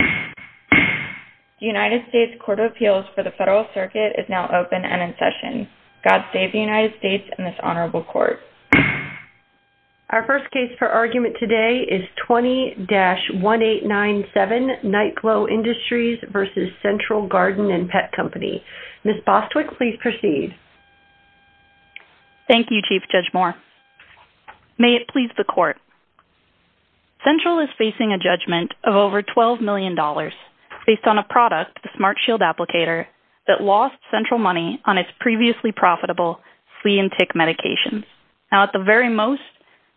The United States Court of Appeals for the Federal Circuit is now open and in session. God save the United States and this Honorable Court. Our first case for argument today is 20-1897 Nite Glow Industries v. Central Garden & Pet Company. Ms. Bostwick, please proceed. Thank you, Chief Judge Moore. May it please the Court. Central is facing a judgment of over $12 million based on a product, the SmartShield applicator, that lost Central money on its previously profitable flea and tick medications. Now, at the very most,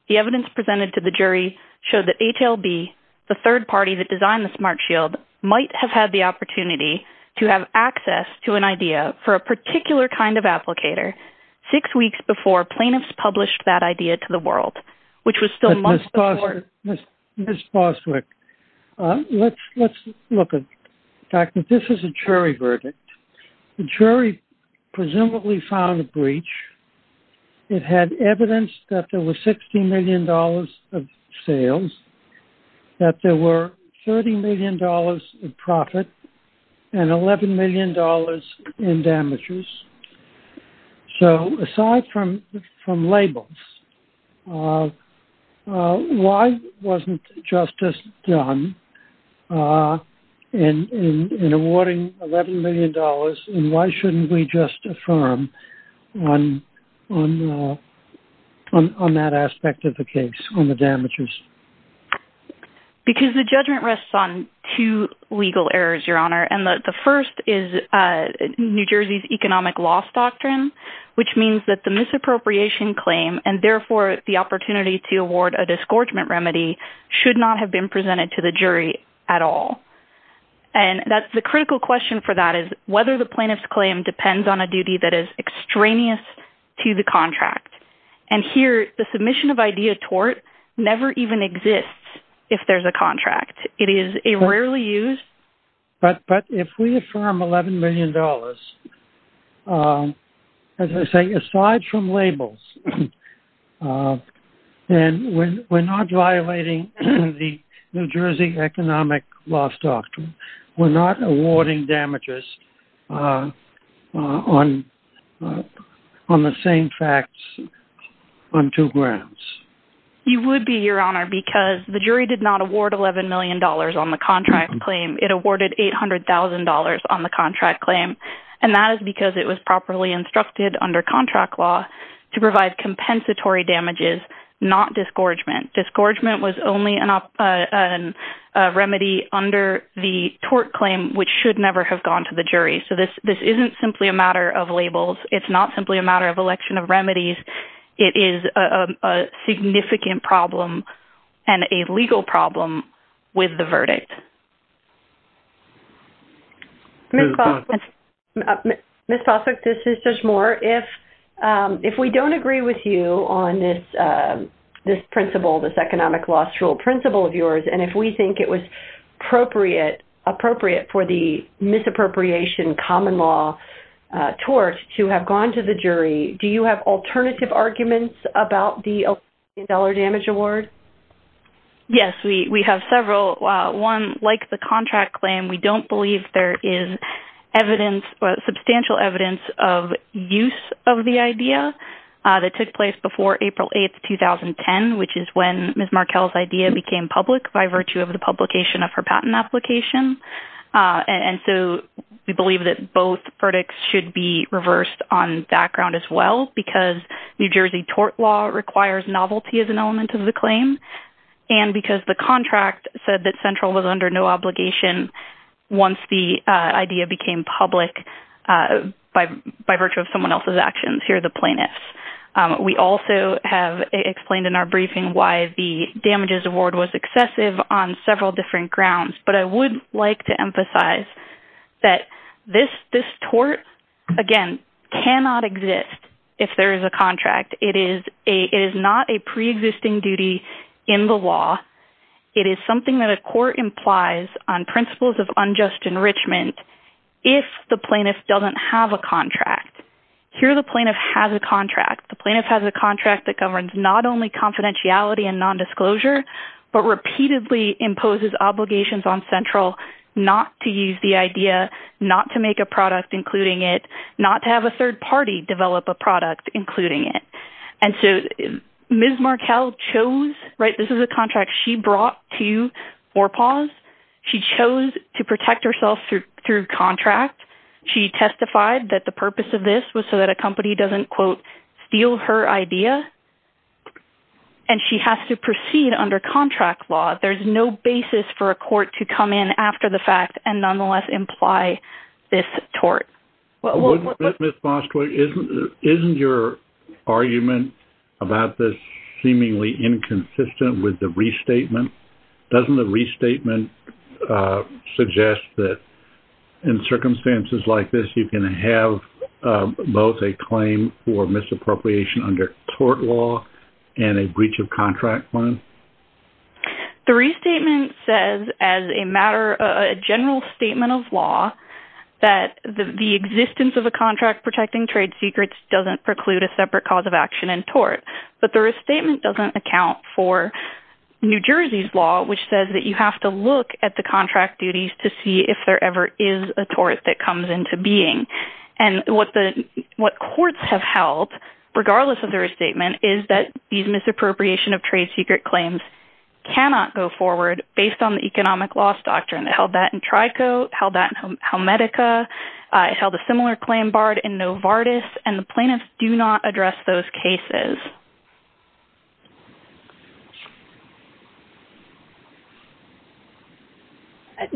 the evidence presented to the jury showed that HLB, the third party that designed the SmartShield, might have had the opportunity to have access to an idea for a particular kind of applicator six weeks before plaintiffs published that idea to the world, which was still months before... Ms. Bostwick, let's look at... Doctor, this is a jury verdict. The jury presumably found a breach. It had evidence that there were $60 million of sales, that there were $30 million of profit, and $11 million in damages. So, aside from labels, why wasn't justice done in awarding $11 million, and why shouldn't we just affirm on that aspect of the case, on the damages? Because the judgment rests on two legal errors, Your Honor. And the first is New Jersey's economic loss doctrine, which means that the misappropriation claim, and therefore the opportunity to award a disgorgement remedy, should not have been presented to the jury at all. And the critical question for that is whether the plaintiff's claim depends on a duty that is extraneous to the contract. And here, the submission of idea tort never even exists if there's a contract. It is a rarely used... But if we affirm $11 million, as I say, aside from labels, then we're not violating the New Jersey economic loss doctrine. We're not awarding damages on the same facts on two grounds. You would be, Your Honor, because the jury did not award $11 million on the contract claim. It awarded $800,000 on the contract claim. And that is because it was properly instructed under contract law to provide compensatory damages, not disgorgement. Disgorgement was only a remedy under the tort claim, which should never have gone to the jury. So, this isn't simply a matter of labels. It's not simply a matter of election of remedies. It is a significant problem and a legal problem with the verdict. Ms. Possack, this is Judge Moore. If we don't agree with you on this principle, this economic loss rule principle of yours, and if we think it was appropriate for the misappropriation common law tort to have gone to the jury, do you have alternative arguments about the $11 million damage award? Yes. We have several. One, like the contract claim, we don't believe there is substantial evidence of use of the idea that took place before April 8, 2010, which is when Ms. Markell's idea became public by virtue of the publication of her patent application. And so, we believe that both verdicts should be reversed on background as well because New Jersey tort law requires novelty as an element of the claim and because the contract said that Central was under no obligation once the idea became public by virtue of someone else's actions. Here are the plaintiffs. We also have explained in our briefing why the damages award was excessive on several different grounds, but I would like to emphasize that this tort, again, cannot exist if there is a contract. It is not a preexisting duty in the law. It is something that a court implies on principles of unjust enrichment if the plaintiff doesn't have a contract. Here, the plaintiff has a contract. The plaintiff has a contract that governs not only confidentiality and nondisclosure but repeatedly imposes obligations on Central not to use the idea, not to make a product including it, not to have a third party develop a product including it. And so, Ms. Markell chose, right, this is a contract she brought to Orpahs. She chose to protect herself through contract. She testified that the purpose of this was so that a company doesn't, quote, steal her idea and she has to proceed under contract law. There's no basis for a court to come in after the fact and nonetheless imply this tort. Ms. Moskowitz, isn't your argument about this seemingly inconsistent with the restatement? Doesn't the restatement suggest that in circumstances like this, you can have both a claim for misappropriation under tort law and a breach of contract law? The restatement says as a matter, a general statement of law, that the existence of a contract protecting trade secrets doesn't preclude a separate cause of action in tort. But the restatement doesn't account for New Jersey's law, which says that you have to look at the contract duties to see if there ever is a tort that comes into being. And what courts have held, regardless of the restatement, is that these misappropriation of trade secret claims cannot go forward based on the economic loss doctrine. They held that in Trico, held that in Helmetica, held a similar claim barred in Novartis, and the plaintiffs do not address those cases.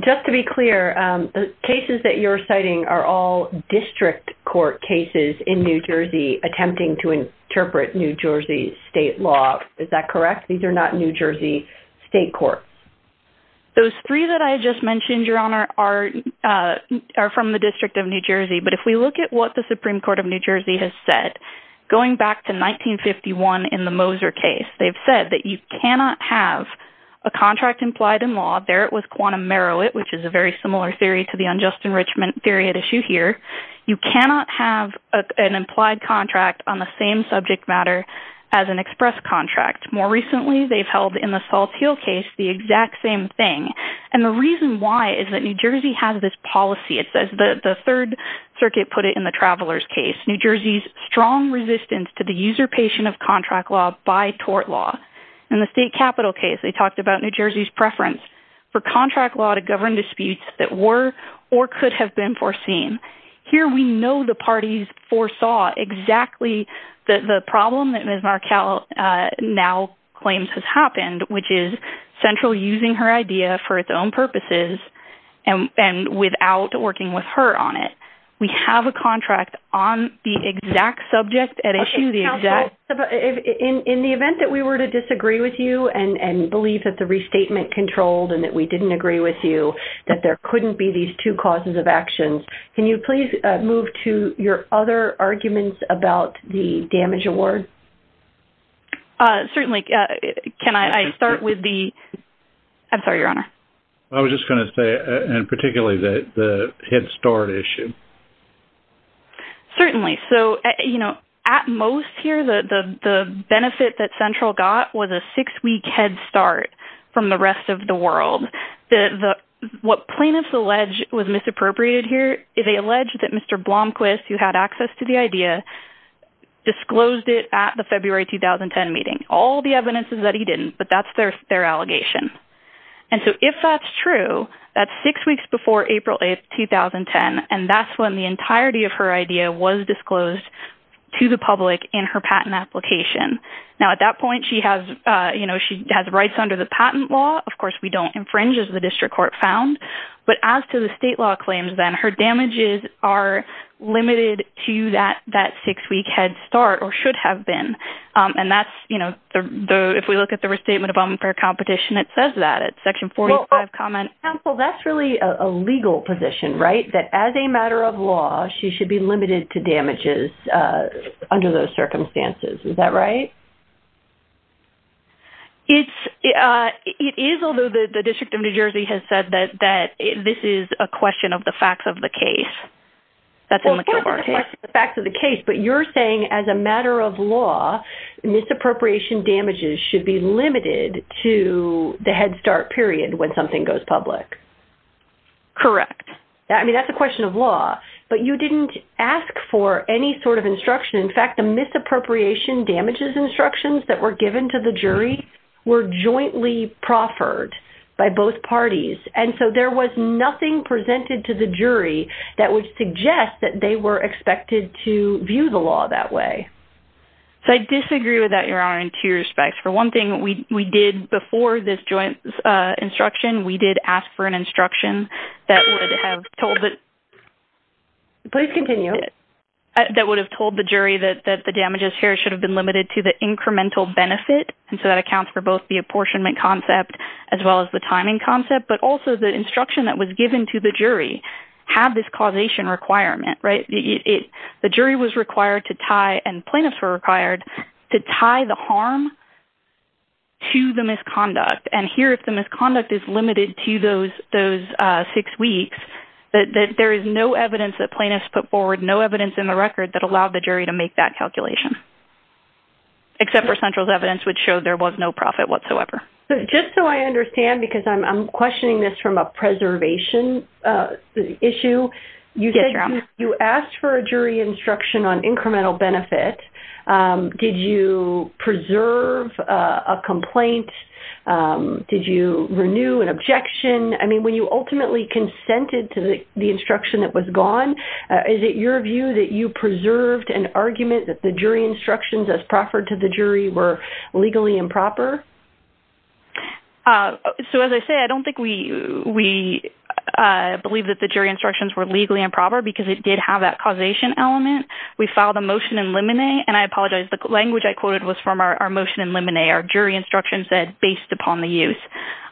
Just to be clear, the cases that you're citing are all district court cases in New Jersey attempting to interpret New Jersey state law. Is that correct? These are not New Jersey state courts. Those three that I just mentioned, Your Honor, are from the District of New Jersey. But if we look at what the Supreme Court of New Jersey has said, going back to 1951 in the Moser case, they've said that you cannot have a contract implied in law, there it was quantum merit, which is a very similar theory to the unjust enrichment theory at issue here. You cannot have an implied contract on the same subject matter as an express contract. More recently, they've held in the Salt Hill case the exact same thing. And the reason why is that New Jersey has this policy. It says the Third Circuit put it in the Travelers case, New Jersey's strong resistance to the user-patient of contract law by tort law. In the state capital case, they talked about New Jersey's preference for contract law to govern disputes that were or could have been foreseen. Here we know the parties foresaw exactly the problem that Ms. Markell now claims has happened, which is Central using her idea for its own purposes and without working with her on it. We have a contract on the exact subject at issue. Okay, counsel, in the event that we were to disagree with you and believe that the restatement controlled and that we didn't agree with you that there couldn't be these two causes of actions, can you please move to your other arguments about the damage award? Certainly. Can I start with the – I'm sorry, Your Honor. I was just going to say, and particularly the head start issue. Certainly. So, you know, at most here, the benefit that Central got was a six-week head start from the rest of the world. What plaintiffs allege was misappropriated here is they allege that Mr. Blomquist, who had access to the idea, disclosed it at the February 2010 meeting. All the evidence is that he didn't, but that's their allegation. And so if that's true, that's six weeks before April 8, 2010, and that's when the entirety of her idea was disclosed to the public in her patent application. Now, at that point, she has rights under the patent law. Of course, we don't infringe as the district court found. But as to the state law claims, then, her damages are limited to that six-week head start or should have been. And that's, you know, if we look at the restatement of unfair competition, it says that. It's section 45, comment. Well, counsel, that's really a legal position, right, that as a matter of law, she should be limited to damages under those circumstances. Is that right? It is, although the District of New Jersey has said that this is a question of the facts of the case. Well, of course it's a question of the facts of the case, but you're saying as a matter of law, misappropriation damages should be limited to the head start period when something goes public. Correct. I mean, that's a question of law. But you didn't ask for any sort of instruction. In fact, the misappropriation damages instructions that were given to the jury were jointly proffered by both parties. And so there was nothing presented to the jury that would suggest that they were expected to view the law that way. So I disagree with that, Your Honor, in two respects. For one thing, we did before this joint instruction, we did ask for an instruction that would have told the jury that the damages here should have been limited to the incremental benefit. And so that accounts for both the apportionment concept as well as the timing concept, but also the instruction that was given to the jury had this causation requirement, right? The jury was required to tie and plaintiffs were required to tie the harm to the misconduct. And here, if the misconduct is limited to those six weeks, that there is no evidence that plaintiffs put forward, there was no evidence in the record that allowed the jury to make that calculation, except for central's evidence, which showed there was no profit whatsoever. Just so I understand, because I'm questioning this from a preservation issue. You said you asked for a jury instruction on incremental benefit. Did you preserve a complaint? Did you renew an objection? I mean, when you ultimately consented to the instruction that was gone, is it your view that you preserved an argument that the jury instructions as proffered to the jury were legally improper? So as I say, I don't think we believe that the jury instructions were legally improper because it did have that causation element. We filed a motion in limine, and I apologize. The language I quoted was from our motion in limine. Our jury instruction said, based upon the use.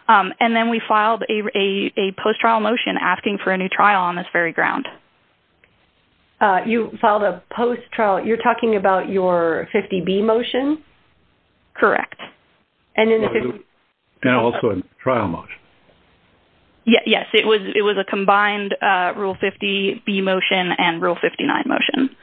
And then we filed a post-trial motion asking for a new trial on this very ground. You filed a post-trial? You're talking about your 50B motion? Correct. And also a trial motion. Yes. It was a combined Rule 50B motion and Rule 59 motion.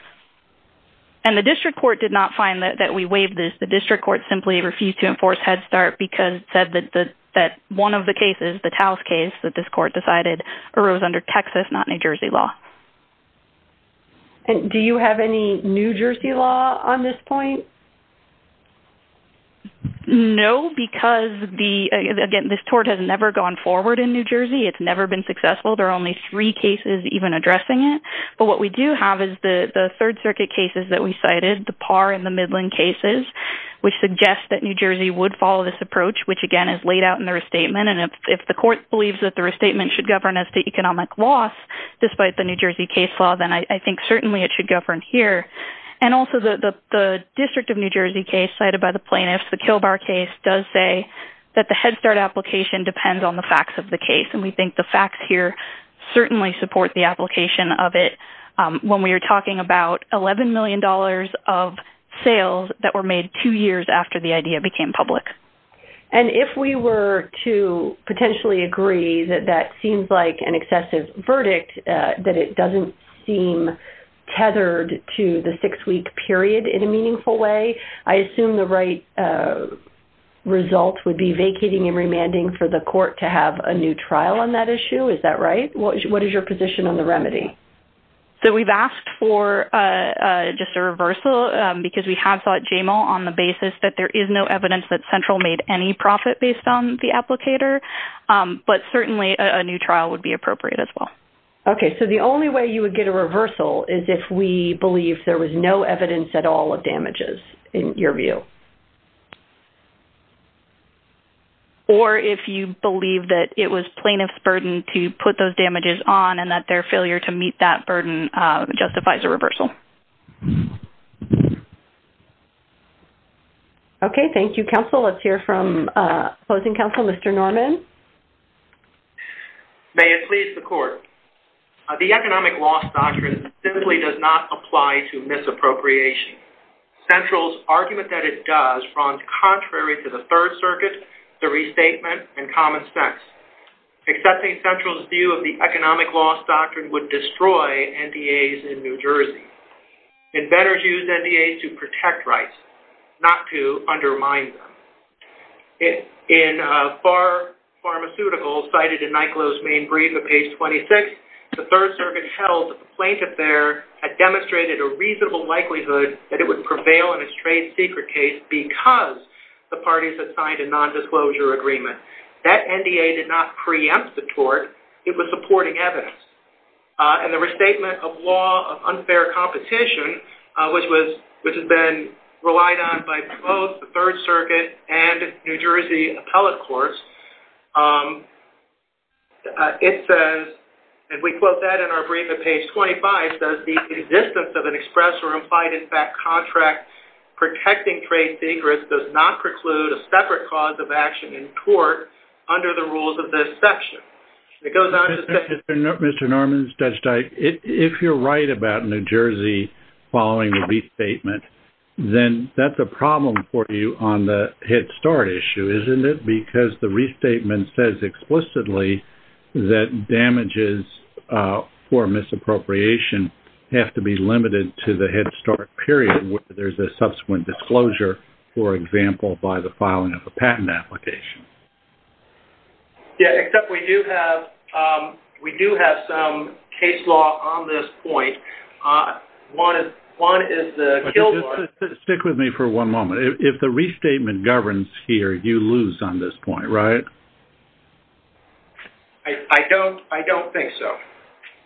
And the district court did not find that we waived this. The district court simply refused to enforce Head Start because it said that one of the cases, the Taos case, that this court decided arose under Texas, not New Jersey law. Do you have any New Jersey law on this point? No, because, again, this tort has never gone forward in New Jersey. It's never been successful. There are only three cases even addressing it. But what we do have is the Third Circuit cases that we cited, the Parr and the Midland cases, which suggest that New Jersey would follow this approach, which, again, is laid out in the restatement. And if the court believes that the restatement should govern as to economic loss, despite the New Jersey case law, then I think certainly it should govern here. And also the District of New Jersey case cited by the plaintiffs, the Kilbar case, does say that the Head Start application depends on the facts of the case. And we think the facts here certainly support the application of it when we are talking about $11 million of sales that were made two years after the idea became public. And if we were to potentially agree that that seems like an excessive verdict, that it doesn't seem tethered to the six-week period in a meaningful way, I assume the right result would be vacating and remanding for the court to have a new trial on that issue. Is that right? What is your position on the remedy? So we've asked for just a reversal because we have thought JML on the basis that there is no evidence that Central made any profit based on the applicator. But certainly a new trial would be appropriate as well. Okay. So the only way you would get a reversal is if we believe there was no evidence at all of damages, in your view. Or if you believe that it was plaintiff's burden to put those damages on and that their failure to meet that burden justifies a reversal. Okay. Thank you, counsel. Let's hear from opposing counsel, Mr. Norman. May it please the court. The economic loss doctrine simply does not apply to misappropriation. Central's argument that it does runs contrary to the Third Circuit, the restatement, and common sense. Accepting Central's view of the economic loss doctrine would destroy NDAs in New Jersey. And better use NDAs to protect rights, not to undermine them. In Pharmaceuticals, cited in Nyklow's main brief at page 26, the Third Circuit held that the plaintiff there had demonstrated a reasonable likelihood that it would prevail in its trade secret case because the parties had signed a nondisclosure agreement. That NDA did not preempt the tort. It was supporting evidence. And the restatement of law of unfair competition, which has been relied on by both the Third Circuit and New Jersey appellate courts, it says, and we quote that in our brief at page 25, says the existence of an express or implied-in-fact contract protecting trade secrets does not preclude a separate cause of action in court under the rules of this section. It goes on to say- Mr. Norman, Judge Dike, if you're right about New Jersey following the beef statement, then that's a problem for you on the Head Start issue, isn't it? Because the restatement says explicitly that damages for misappropriation have to be limited to the Head Start period where there's a subsequent disclosure, for example, by the filing of a patent application. Yeah, except we do have some case law on this point. One is the- Stick with me for one moment. If the restatement governs here, you lose on this point, right? I don't think so.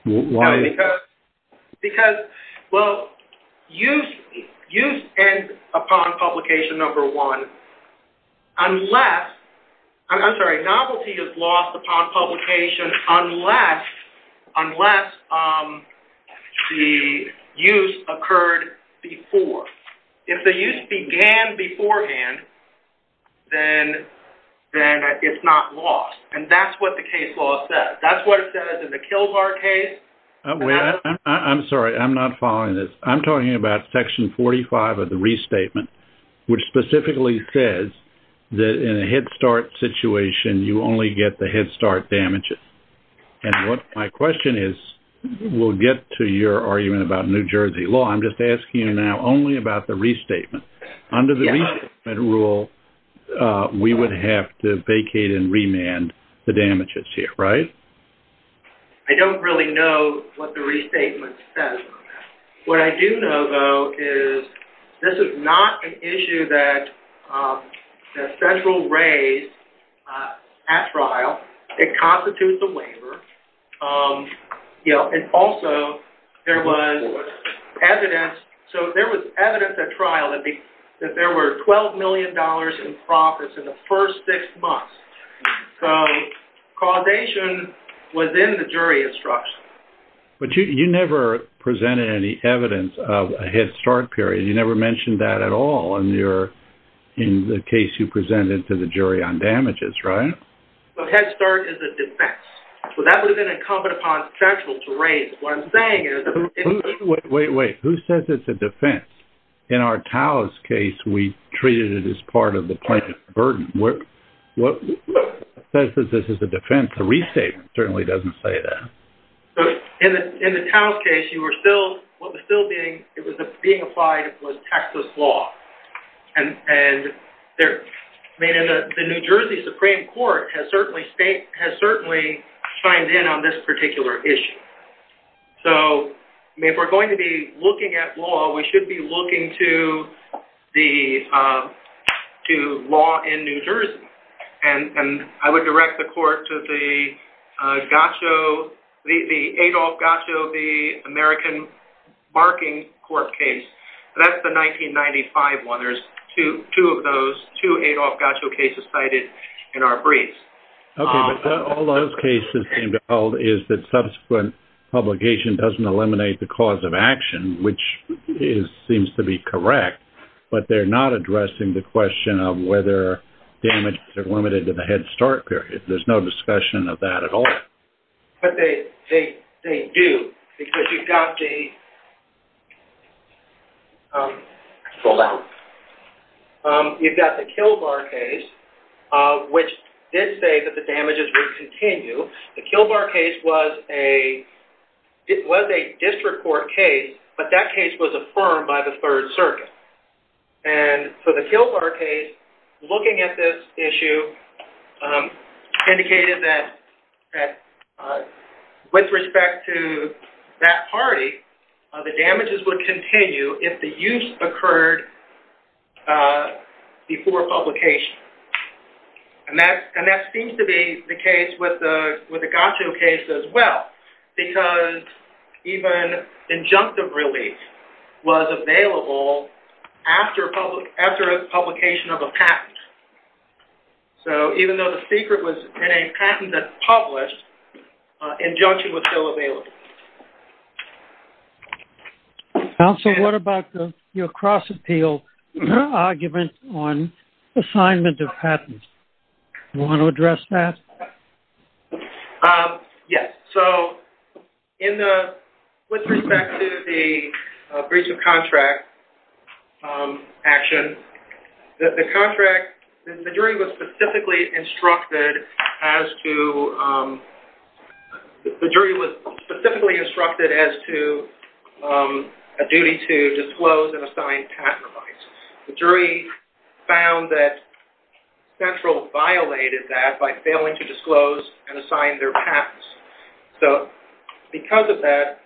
Why? Because, well, use ends upon publication number one unless- I'm sorry, novelty is lost upon publication unless the use occurred before. If the use began beforehand, then it's not lost, and that's what the case law says. That's what it says in the Kill Bar case. I'm sorry, I'm not following this. I'm talking about section 45 of the restatement, which specifically says that in a Head Start situation, you only get the Head Start damages. And what my question is, we'll get to your argument about New Jersey law. I'm just asking you now only about the restatement. Under the restatement rule, we would have to vacate and remand the damages here, right? I don't really know what the restatement says on that. What I do know, though, is this is not an issue that the federal raised at trial. It constitutes a waiver. And also, there was evidence at trial that there were $12 million in profits in the first six months. So causation was in the jury instruction. But you never presented any evidence of a Head Start period. You never mentioned that at all in the case you presented to the jury on damages, right? Well, Head Start is a defense. So that would have been incumbent upon federal to raise. What I'm saying is- Wait, wait, wait. Who says it's a defense? In our Taos case, we treated it as part of the plaintiff's burden. What says that this is a defense? The restatement certainly doesn't say that. In the Taos case, what was still being applied was Texas law. And the New Jersey Supreme Court has certainly chimed in on this particular issue. So if we're going to be looking at law, we should be looking to law in New Jersey. And I would direct the court to the Adolph Gacho v. American Barking Court case. That's the 1995 one. There's two of those, two Adolph Gacho cases cited in our briefs. Okay. But all those cases seem to hold is that subsequent publication doesn't eliminate the cause of action, which seems to be correct. But they're not addressing the question of whether damages are limited to the Head Start period. There's no discussion of that at all. But they do, because you've got the Kill Bar case, which did say that the damages would continue. The Kill Bar case was a district court case, but that case was affirmed by the Third Circuit. And so the Kill Bar case, looking at this issue, indicated that with respect to that party, the damages would continue if the use occurred before publication. And that seems to be the case with the Gacho case as well, because even injunctive release was available after publication of a patent. So even though the secret was in a patent that's published, injunction was still available. Counsel, what about your cross-appeal argument on assignment of patents? Do you want to address that? Yes. So with respect to the breach of contract action, the jury was specifically instructed as to a duty to disclose and assign patent rights. The jury found that Central violated that by failing to disclose and assign their patents. So because of that,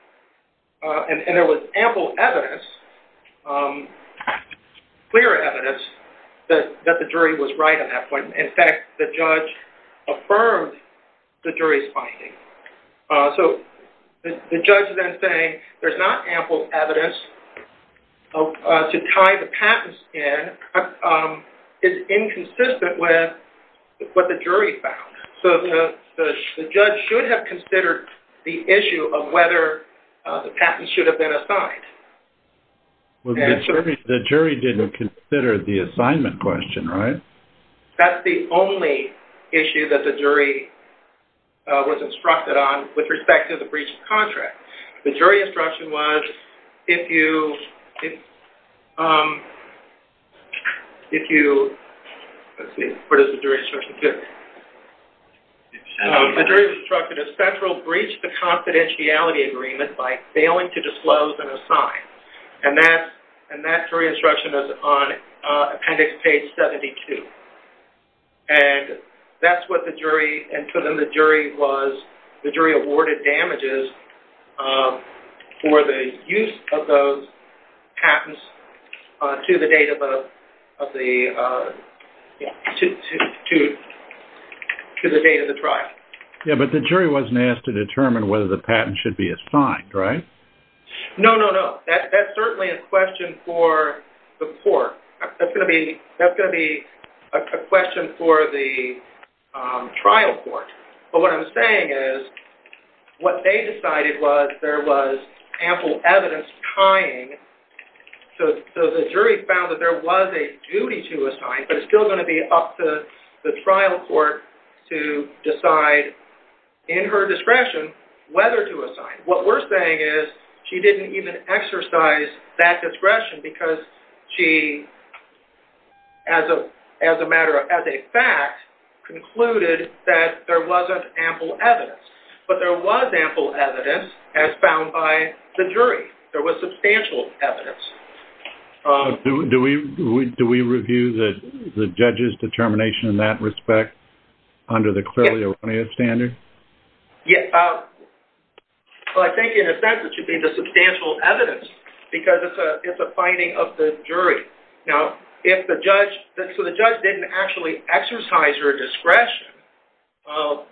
and there was ample evidence, clear evidence, that the jury was right on that point. In fact, the judge affirmed the jury's finding. So the judge then said, there's not ample evidence to tie the patents in. It's inconsistent with what the jury found. So the judge should have considered the issue of whether the patents should have been assigned. The jury didn't consider the assignment question, right? That's the only issue that the jury was instructed on with respect to the breach of contract. The jury instruction was, if you... If you... Let's see, where does the jury instruction go? The jury instruction is Central breached the confidentiality agreement by failing to disclose and assign. And that jury instruction is on appendix page 72. And that's what the jury... And to them, the jury was... The jury awarded damages for the use of those patents to the date of the trial. Yeah, but the jury wasn't asked to determine whether the patents should be assigned, right? No, no, no. That's certainly a question for the court. That's going to be a question for the trial court. But what I'm saying is, what they decided was there was ample evidence tying. So the jury found that there was a duty to assign, but it's still going to be up to the trial court to decide, in her discretion, whether to assign. What we're saying is, she didn't even exercise that discretion because she, as a matter of... As a fact, concluded that there wasn't ample evidence. But there was ample evidence, as found by the jury. There was substantial evidence. Do we review the judge's determination in that respect, under the clearly erroneous standard? Yeah. Well, I think, in a sense, it should be the substantial evidence because it's a finding of the jury. Now, if the judge... So the judge didn't actually exercise her discretion, well,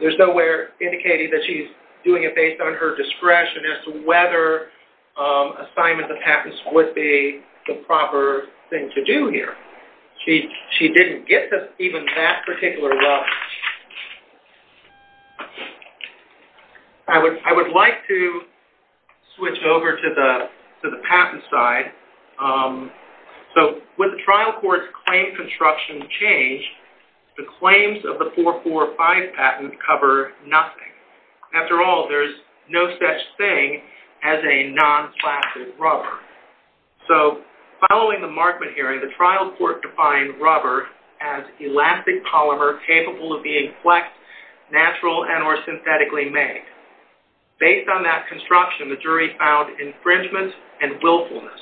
there's no way of indicating that she's doing it based on her discretion as to whether assignment of patents would be the proper thing to do here. She didn't get to even that particular level. I would like to switch over to the patent side. So, when the trial court's claim construction changed, the claims of the 445 patent cover nothing. After all, there's no such thing as a non-flaccid rubber. So, following the Markman hearing, the trial court defined rubber as elastic polymer capable of being flexed, natural, and or synthetically made. Based on that construction, the jury found infringement and willfulness.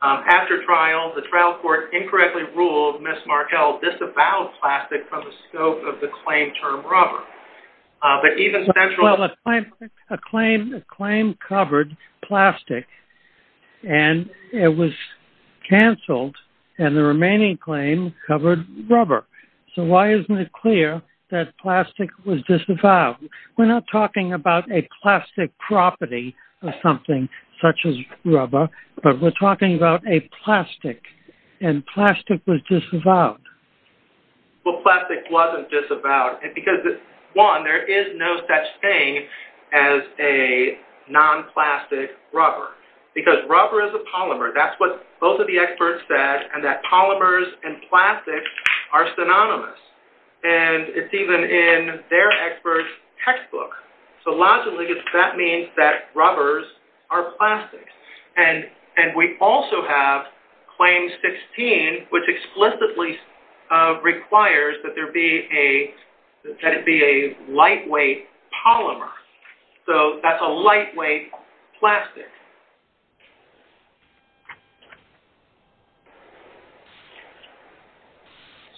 After trial, the trial court incorrectly ruled Ms. Markell disavowed plastic from the scope of the claim term rubber. Well, a claim covered plastic, and it was canceled, and the remaining claim covered rubber. So, why isn't it clear that plastic was disavowed? We're not talking about a plastic property of something such as rubber, but we're talking about a plastic, and plastic was disavowed. Well, plastic wasn't disavowed because, one, there is no such thing as a non-plastic rubber, because rubber is a polymer. That's what both of the experts said, and that polymers and plastics are synonymous, and it's even in their experts' textbook. So, logically, that means that rubbers are plastics. And we also have Claim 16, which explicitly requires that there be a, that it be a lightweight polymer. So, that's a lightweight plastic.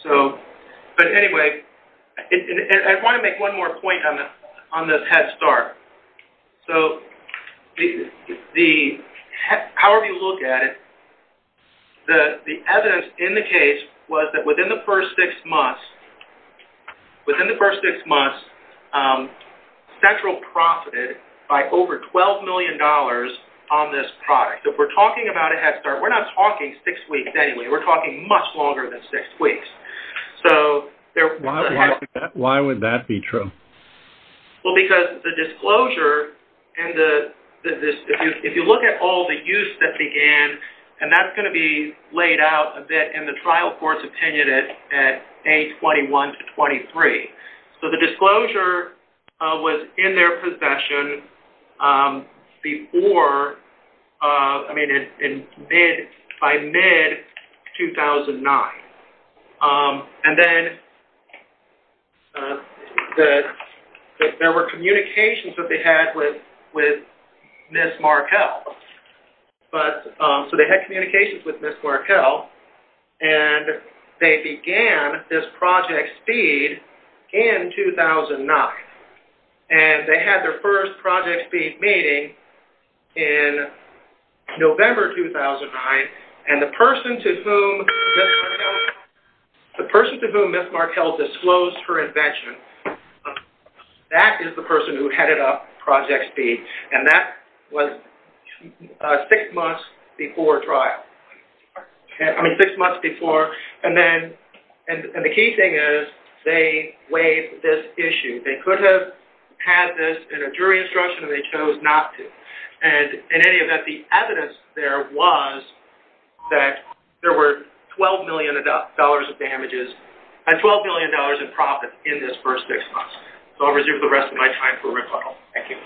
So, but anyway, I want to make one more point on this head start. So, the, however you look at it, the evidence in the case was that within the first six months, within the first six months, Central profited by over $12 million on this product. So, if we're talking about a head start, we're not talking six weeks anyway. We're talking much longer than six weeks. So, there was a head start. Why would that be true? Well, because the disclosure and the, if you look at all the use that began, and that's going to be laid out a bit in the trial court's opinion at A21 to 23. So, the disclosure was in their possession before, I mean, by mid-2009. And then, there were communications that they had with Ms. Markell. But, so they had communications with Ms. Markell, and they began this Project SPEED in 2009. And they had their first Project SPEED meeting in November 2009, and the person to whom Ms. Markell disclosed her invention, that is the person who headed up Project SPEED, and that was six months before trial. I mean, six months before, and then, and the key thing is, they waived this issue. They could have had this in a jury instruction, and they chose not to. And, in any event, the evidence there was that there were $12 million of damages, and $12 million in profits in this first six months. So, I'll reserve the rest of my time for rebuttal. Thank you.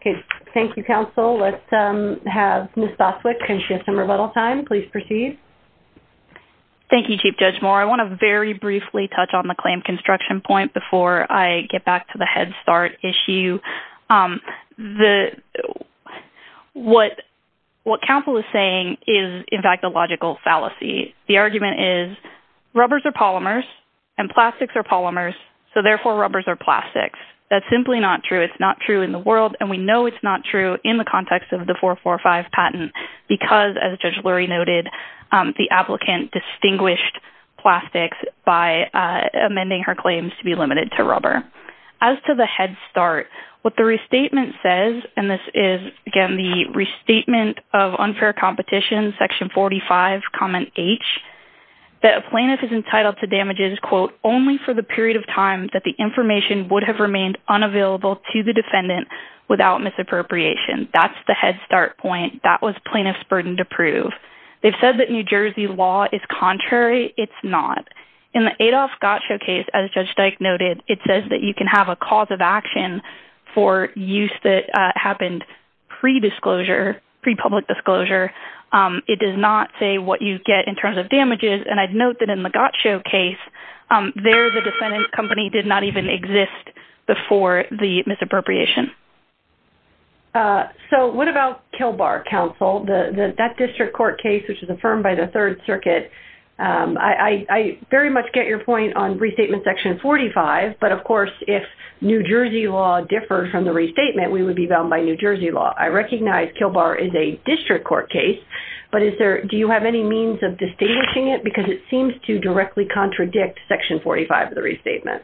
Okay. Thank you, counsel. Let's have Ms. Boswick, and she has some rebuttal time. Please proceed. Thank you, Chief Judge Moore. I want to very briefly touch on the claim construction point before I get back to the head start issue. What counsel is saying is, in fact, a logical fallacy. The argument is, rubbers are polymers, and plastics are polymers, so, therefore, rubbers are plastics. That's simply not true. It's not true in the world, and we know it's not true in the context of the 445 patent, because, as Judge Lurie noted, the applicant distinguished plastics by amending her claims to be limited to rubber. As to the head start, what the restatement says, and this is, again, the restatement of unfair competition, section 45, comment H, that a plaintiff is entitled to damages, quote, only for the period of time that the information would have remained unavailable to the defendant without misappropriation. That's the head start point. That was plaintiff's burden to prove. They've said that New Jersey law is contrary. It's not. In the Adolph Gottschalk case, as Judge Dyke noted, it says that you can have a cause of action for use that happened pre-disclosure, pre-public disclosure. It does not say what you get in terms of damages, and I'd note that in the Gottschalk case, there the defendant's company did not even exist before the misappropriation. So what about Kilbar, counsel? That district court case, which is affirmed by the Third Circuit, I very much get your point on restatement section 45, but, of course, if New Jersey law differed from the restatement, we would be bound by New Jersey law. I recognize Kilbar is a district court case, but do you have any means of distinguishing it? Because it seems to directly contradict section 45 of the restatement.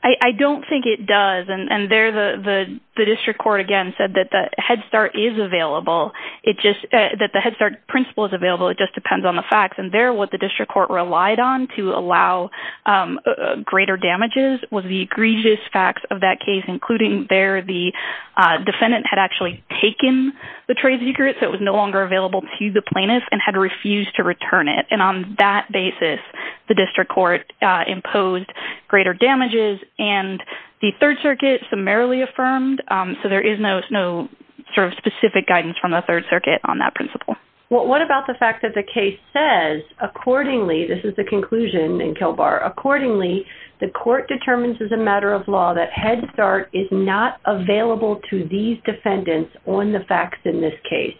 I don't think it does. And there the district court, again, said that the Head Start is available, that the Head Start principle is available. It just depends on the facts. And there what the district court relied on to allow greater damages was the egregious facts of that case, including there the defendant had actually taken the trade secret so it was no longer available to the plaintiff and had refused to return it. And on that basis, the district court imposed greater damages and the Third Circuit summarily affirmed. So there is no sort of specific guidance from the Third Circuit on that principle. Well, what about the fact that the case says, accordingly, this is the conclusion in Kilbar, accordingly, the court determines as a matter of law that Head Start is not available to these defendants on the facts in this case.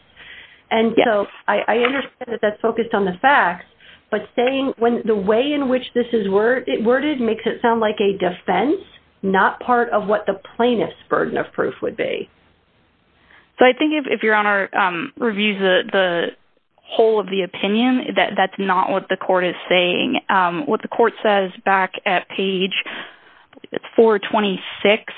And so I understand that that's focused on the facts, but saying the way in which this is worded makes it sound like a defense, not part of what the plaintiff's burden of proof would be. So I think if Your Honor reviews the whole of the opinion, that's not what the court is saying. What the court says back at page 426,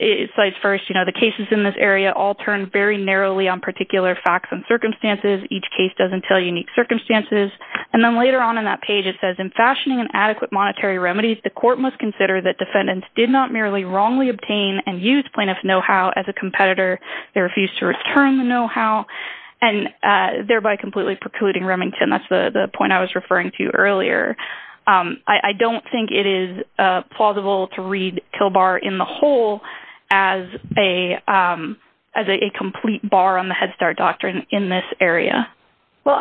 it says first, you know, the cases in this area all turn very narrowly on particular facts and circumstances. Each case doesn't tell unique circumstances. And then later on in that page it says, in fashioning an adequate monetary remedies, the court must consider that defendants did not merely wrongly obtain and use plaintiff's know-how as a competitor. They refused to return the know-how and thereby completely precluding Remington. And that's the point I was referring to earlier. I don't think it is plausible to read Kilbar in the whole as a complete bar on the Head Start doctrine in this area. Well,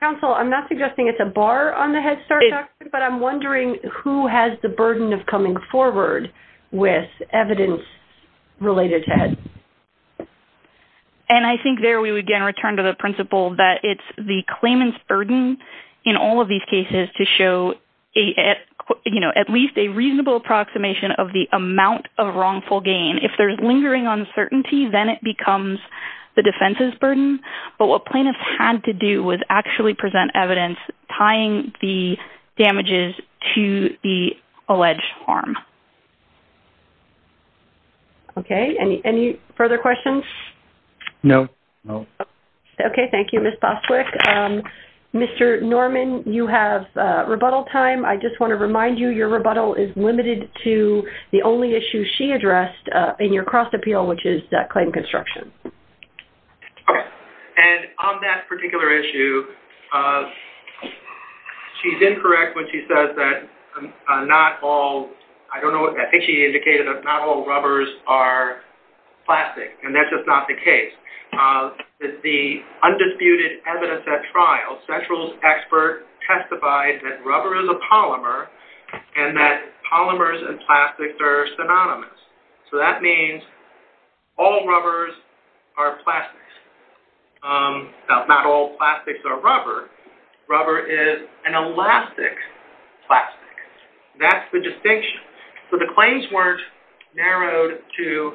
counsel, I'm not suggesting it's a bar on the Head Start doctrine, but I'm wondering who has the burden of coming forward with evidence related to Head Start. And I think there we would again return to the principle that it's the claimant's burden in all of these cases to show, you know, at least a reasonable approximation of the amount of wrongful gain. If there's lingering uncertainty, then it becomes the defense's burden. But what plaintiffs had to do was actually present evidence tying the damages to the alleged harm. Okay. Any further questions? No. Okay. Thank you, Ms. Boswick. Mr. Norman, you have rebuttal time. I just want to remind you your rebuttal is limited to the only issue she addressed in your cross appeal, which is claim construction. Okay. And on that particular issue, she's incorrect when she says that not all, I don't know, I think she indicated that not all rubbers are plastic. And that's just not the case. The undisputed evidence at trial, Central's expert testified that rubber is a polymer and that polymers and plastics are synonymous. So that means all rubbers are plastics. Not all plastics are rubber. Rubber is an elastic plastic. That's the distinction. So the claims weren't narrowed to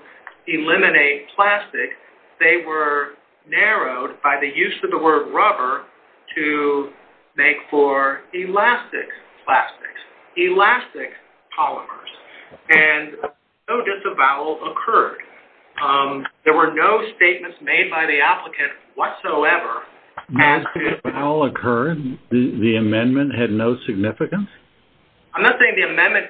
eliminate plastic. They were narrowed by the use of the word rubber to make for elastic plastics, elastic polymers. And no disavowal occurred. There were no statements made by the applicant whatsoever. No disavowal occurred? The amendment had no significance? I'm not saying the amendment,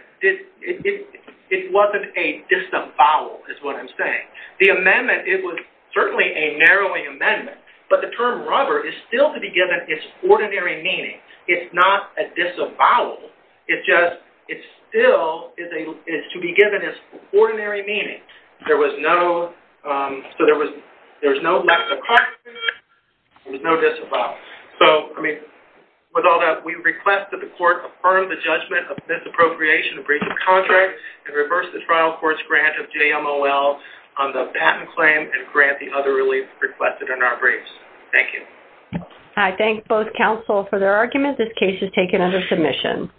it wasn't a disavowal is what I'm saying. The amendment, it was certainly a narrowing amendment. But the term rubber is still to be given its ordinary meaning. It's not a disavowal. It's just it still is to be given its ordinary meaning. There was no lack of confidence. There was no disavowal. So, I mean, with all that, we request that the court affirm the judgment of misappropriation of breach of contract and reverse the trial court's grant of JMOL on the patent claim and grant the other relief requested in our briefs. Thank you. I thank both counsel for their arguments. This case is taken under submission. Thank you.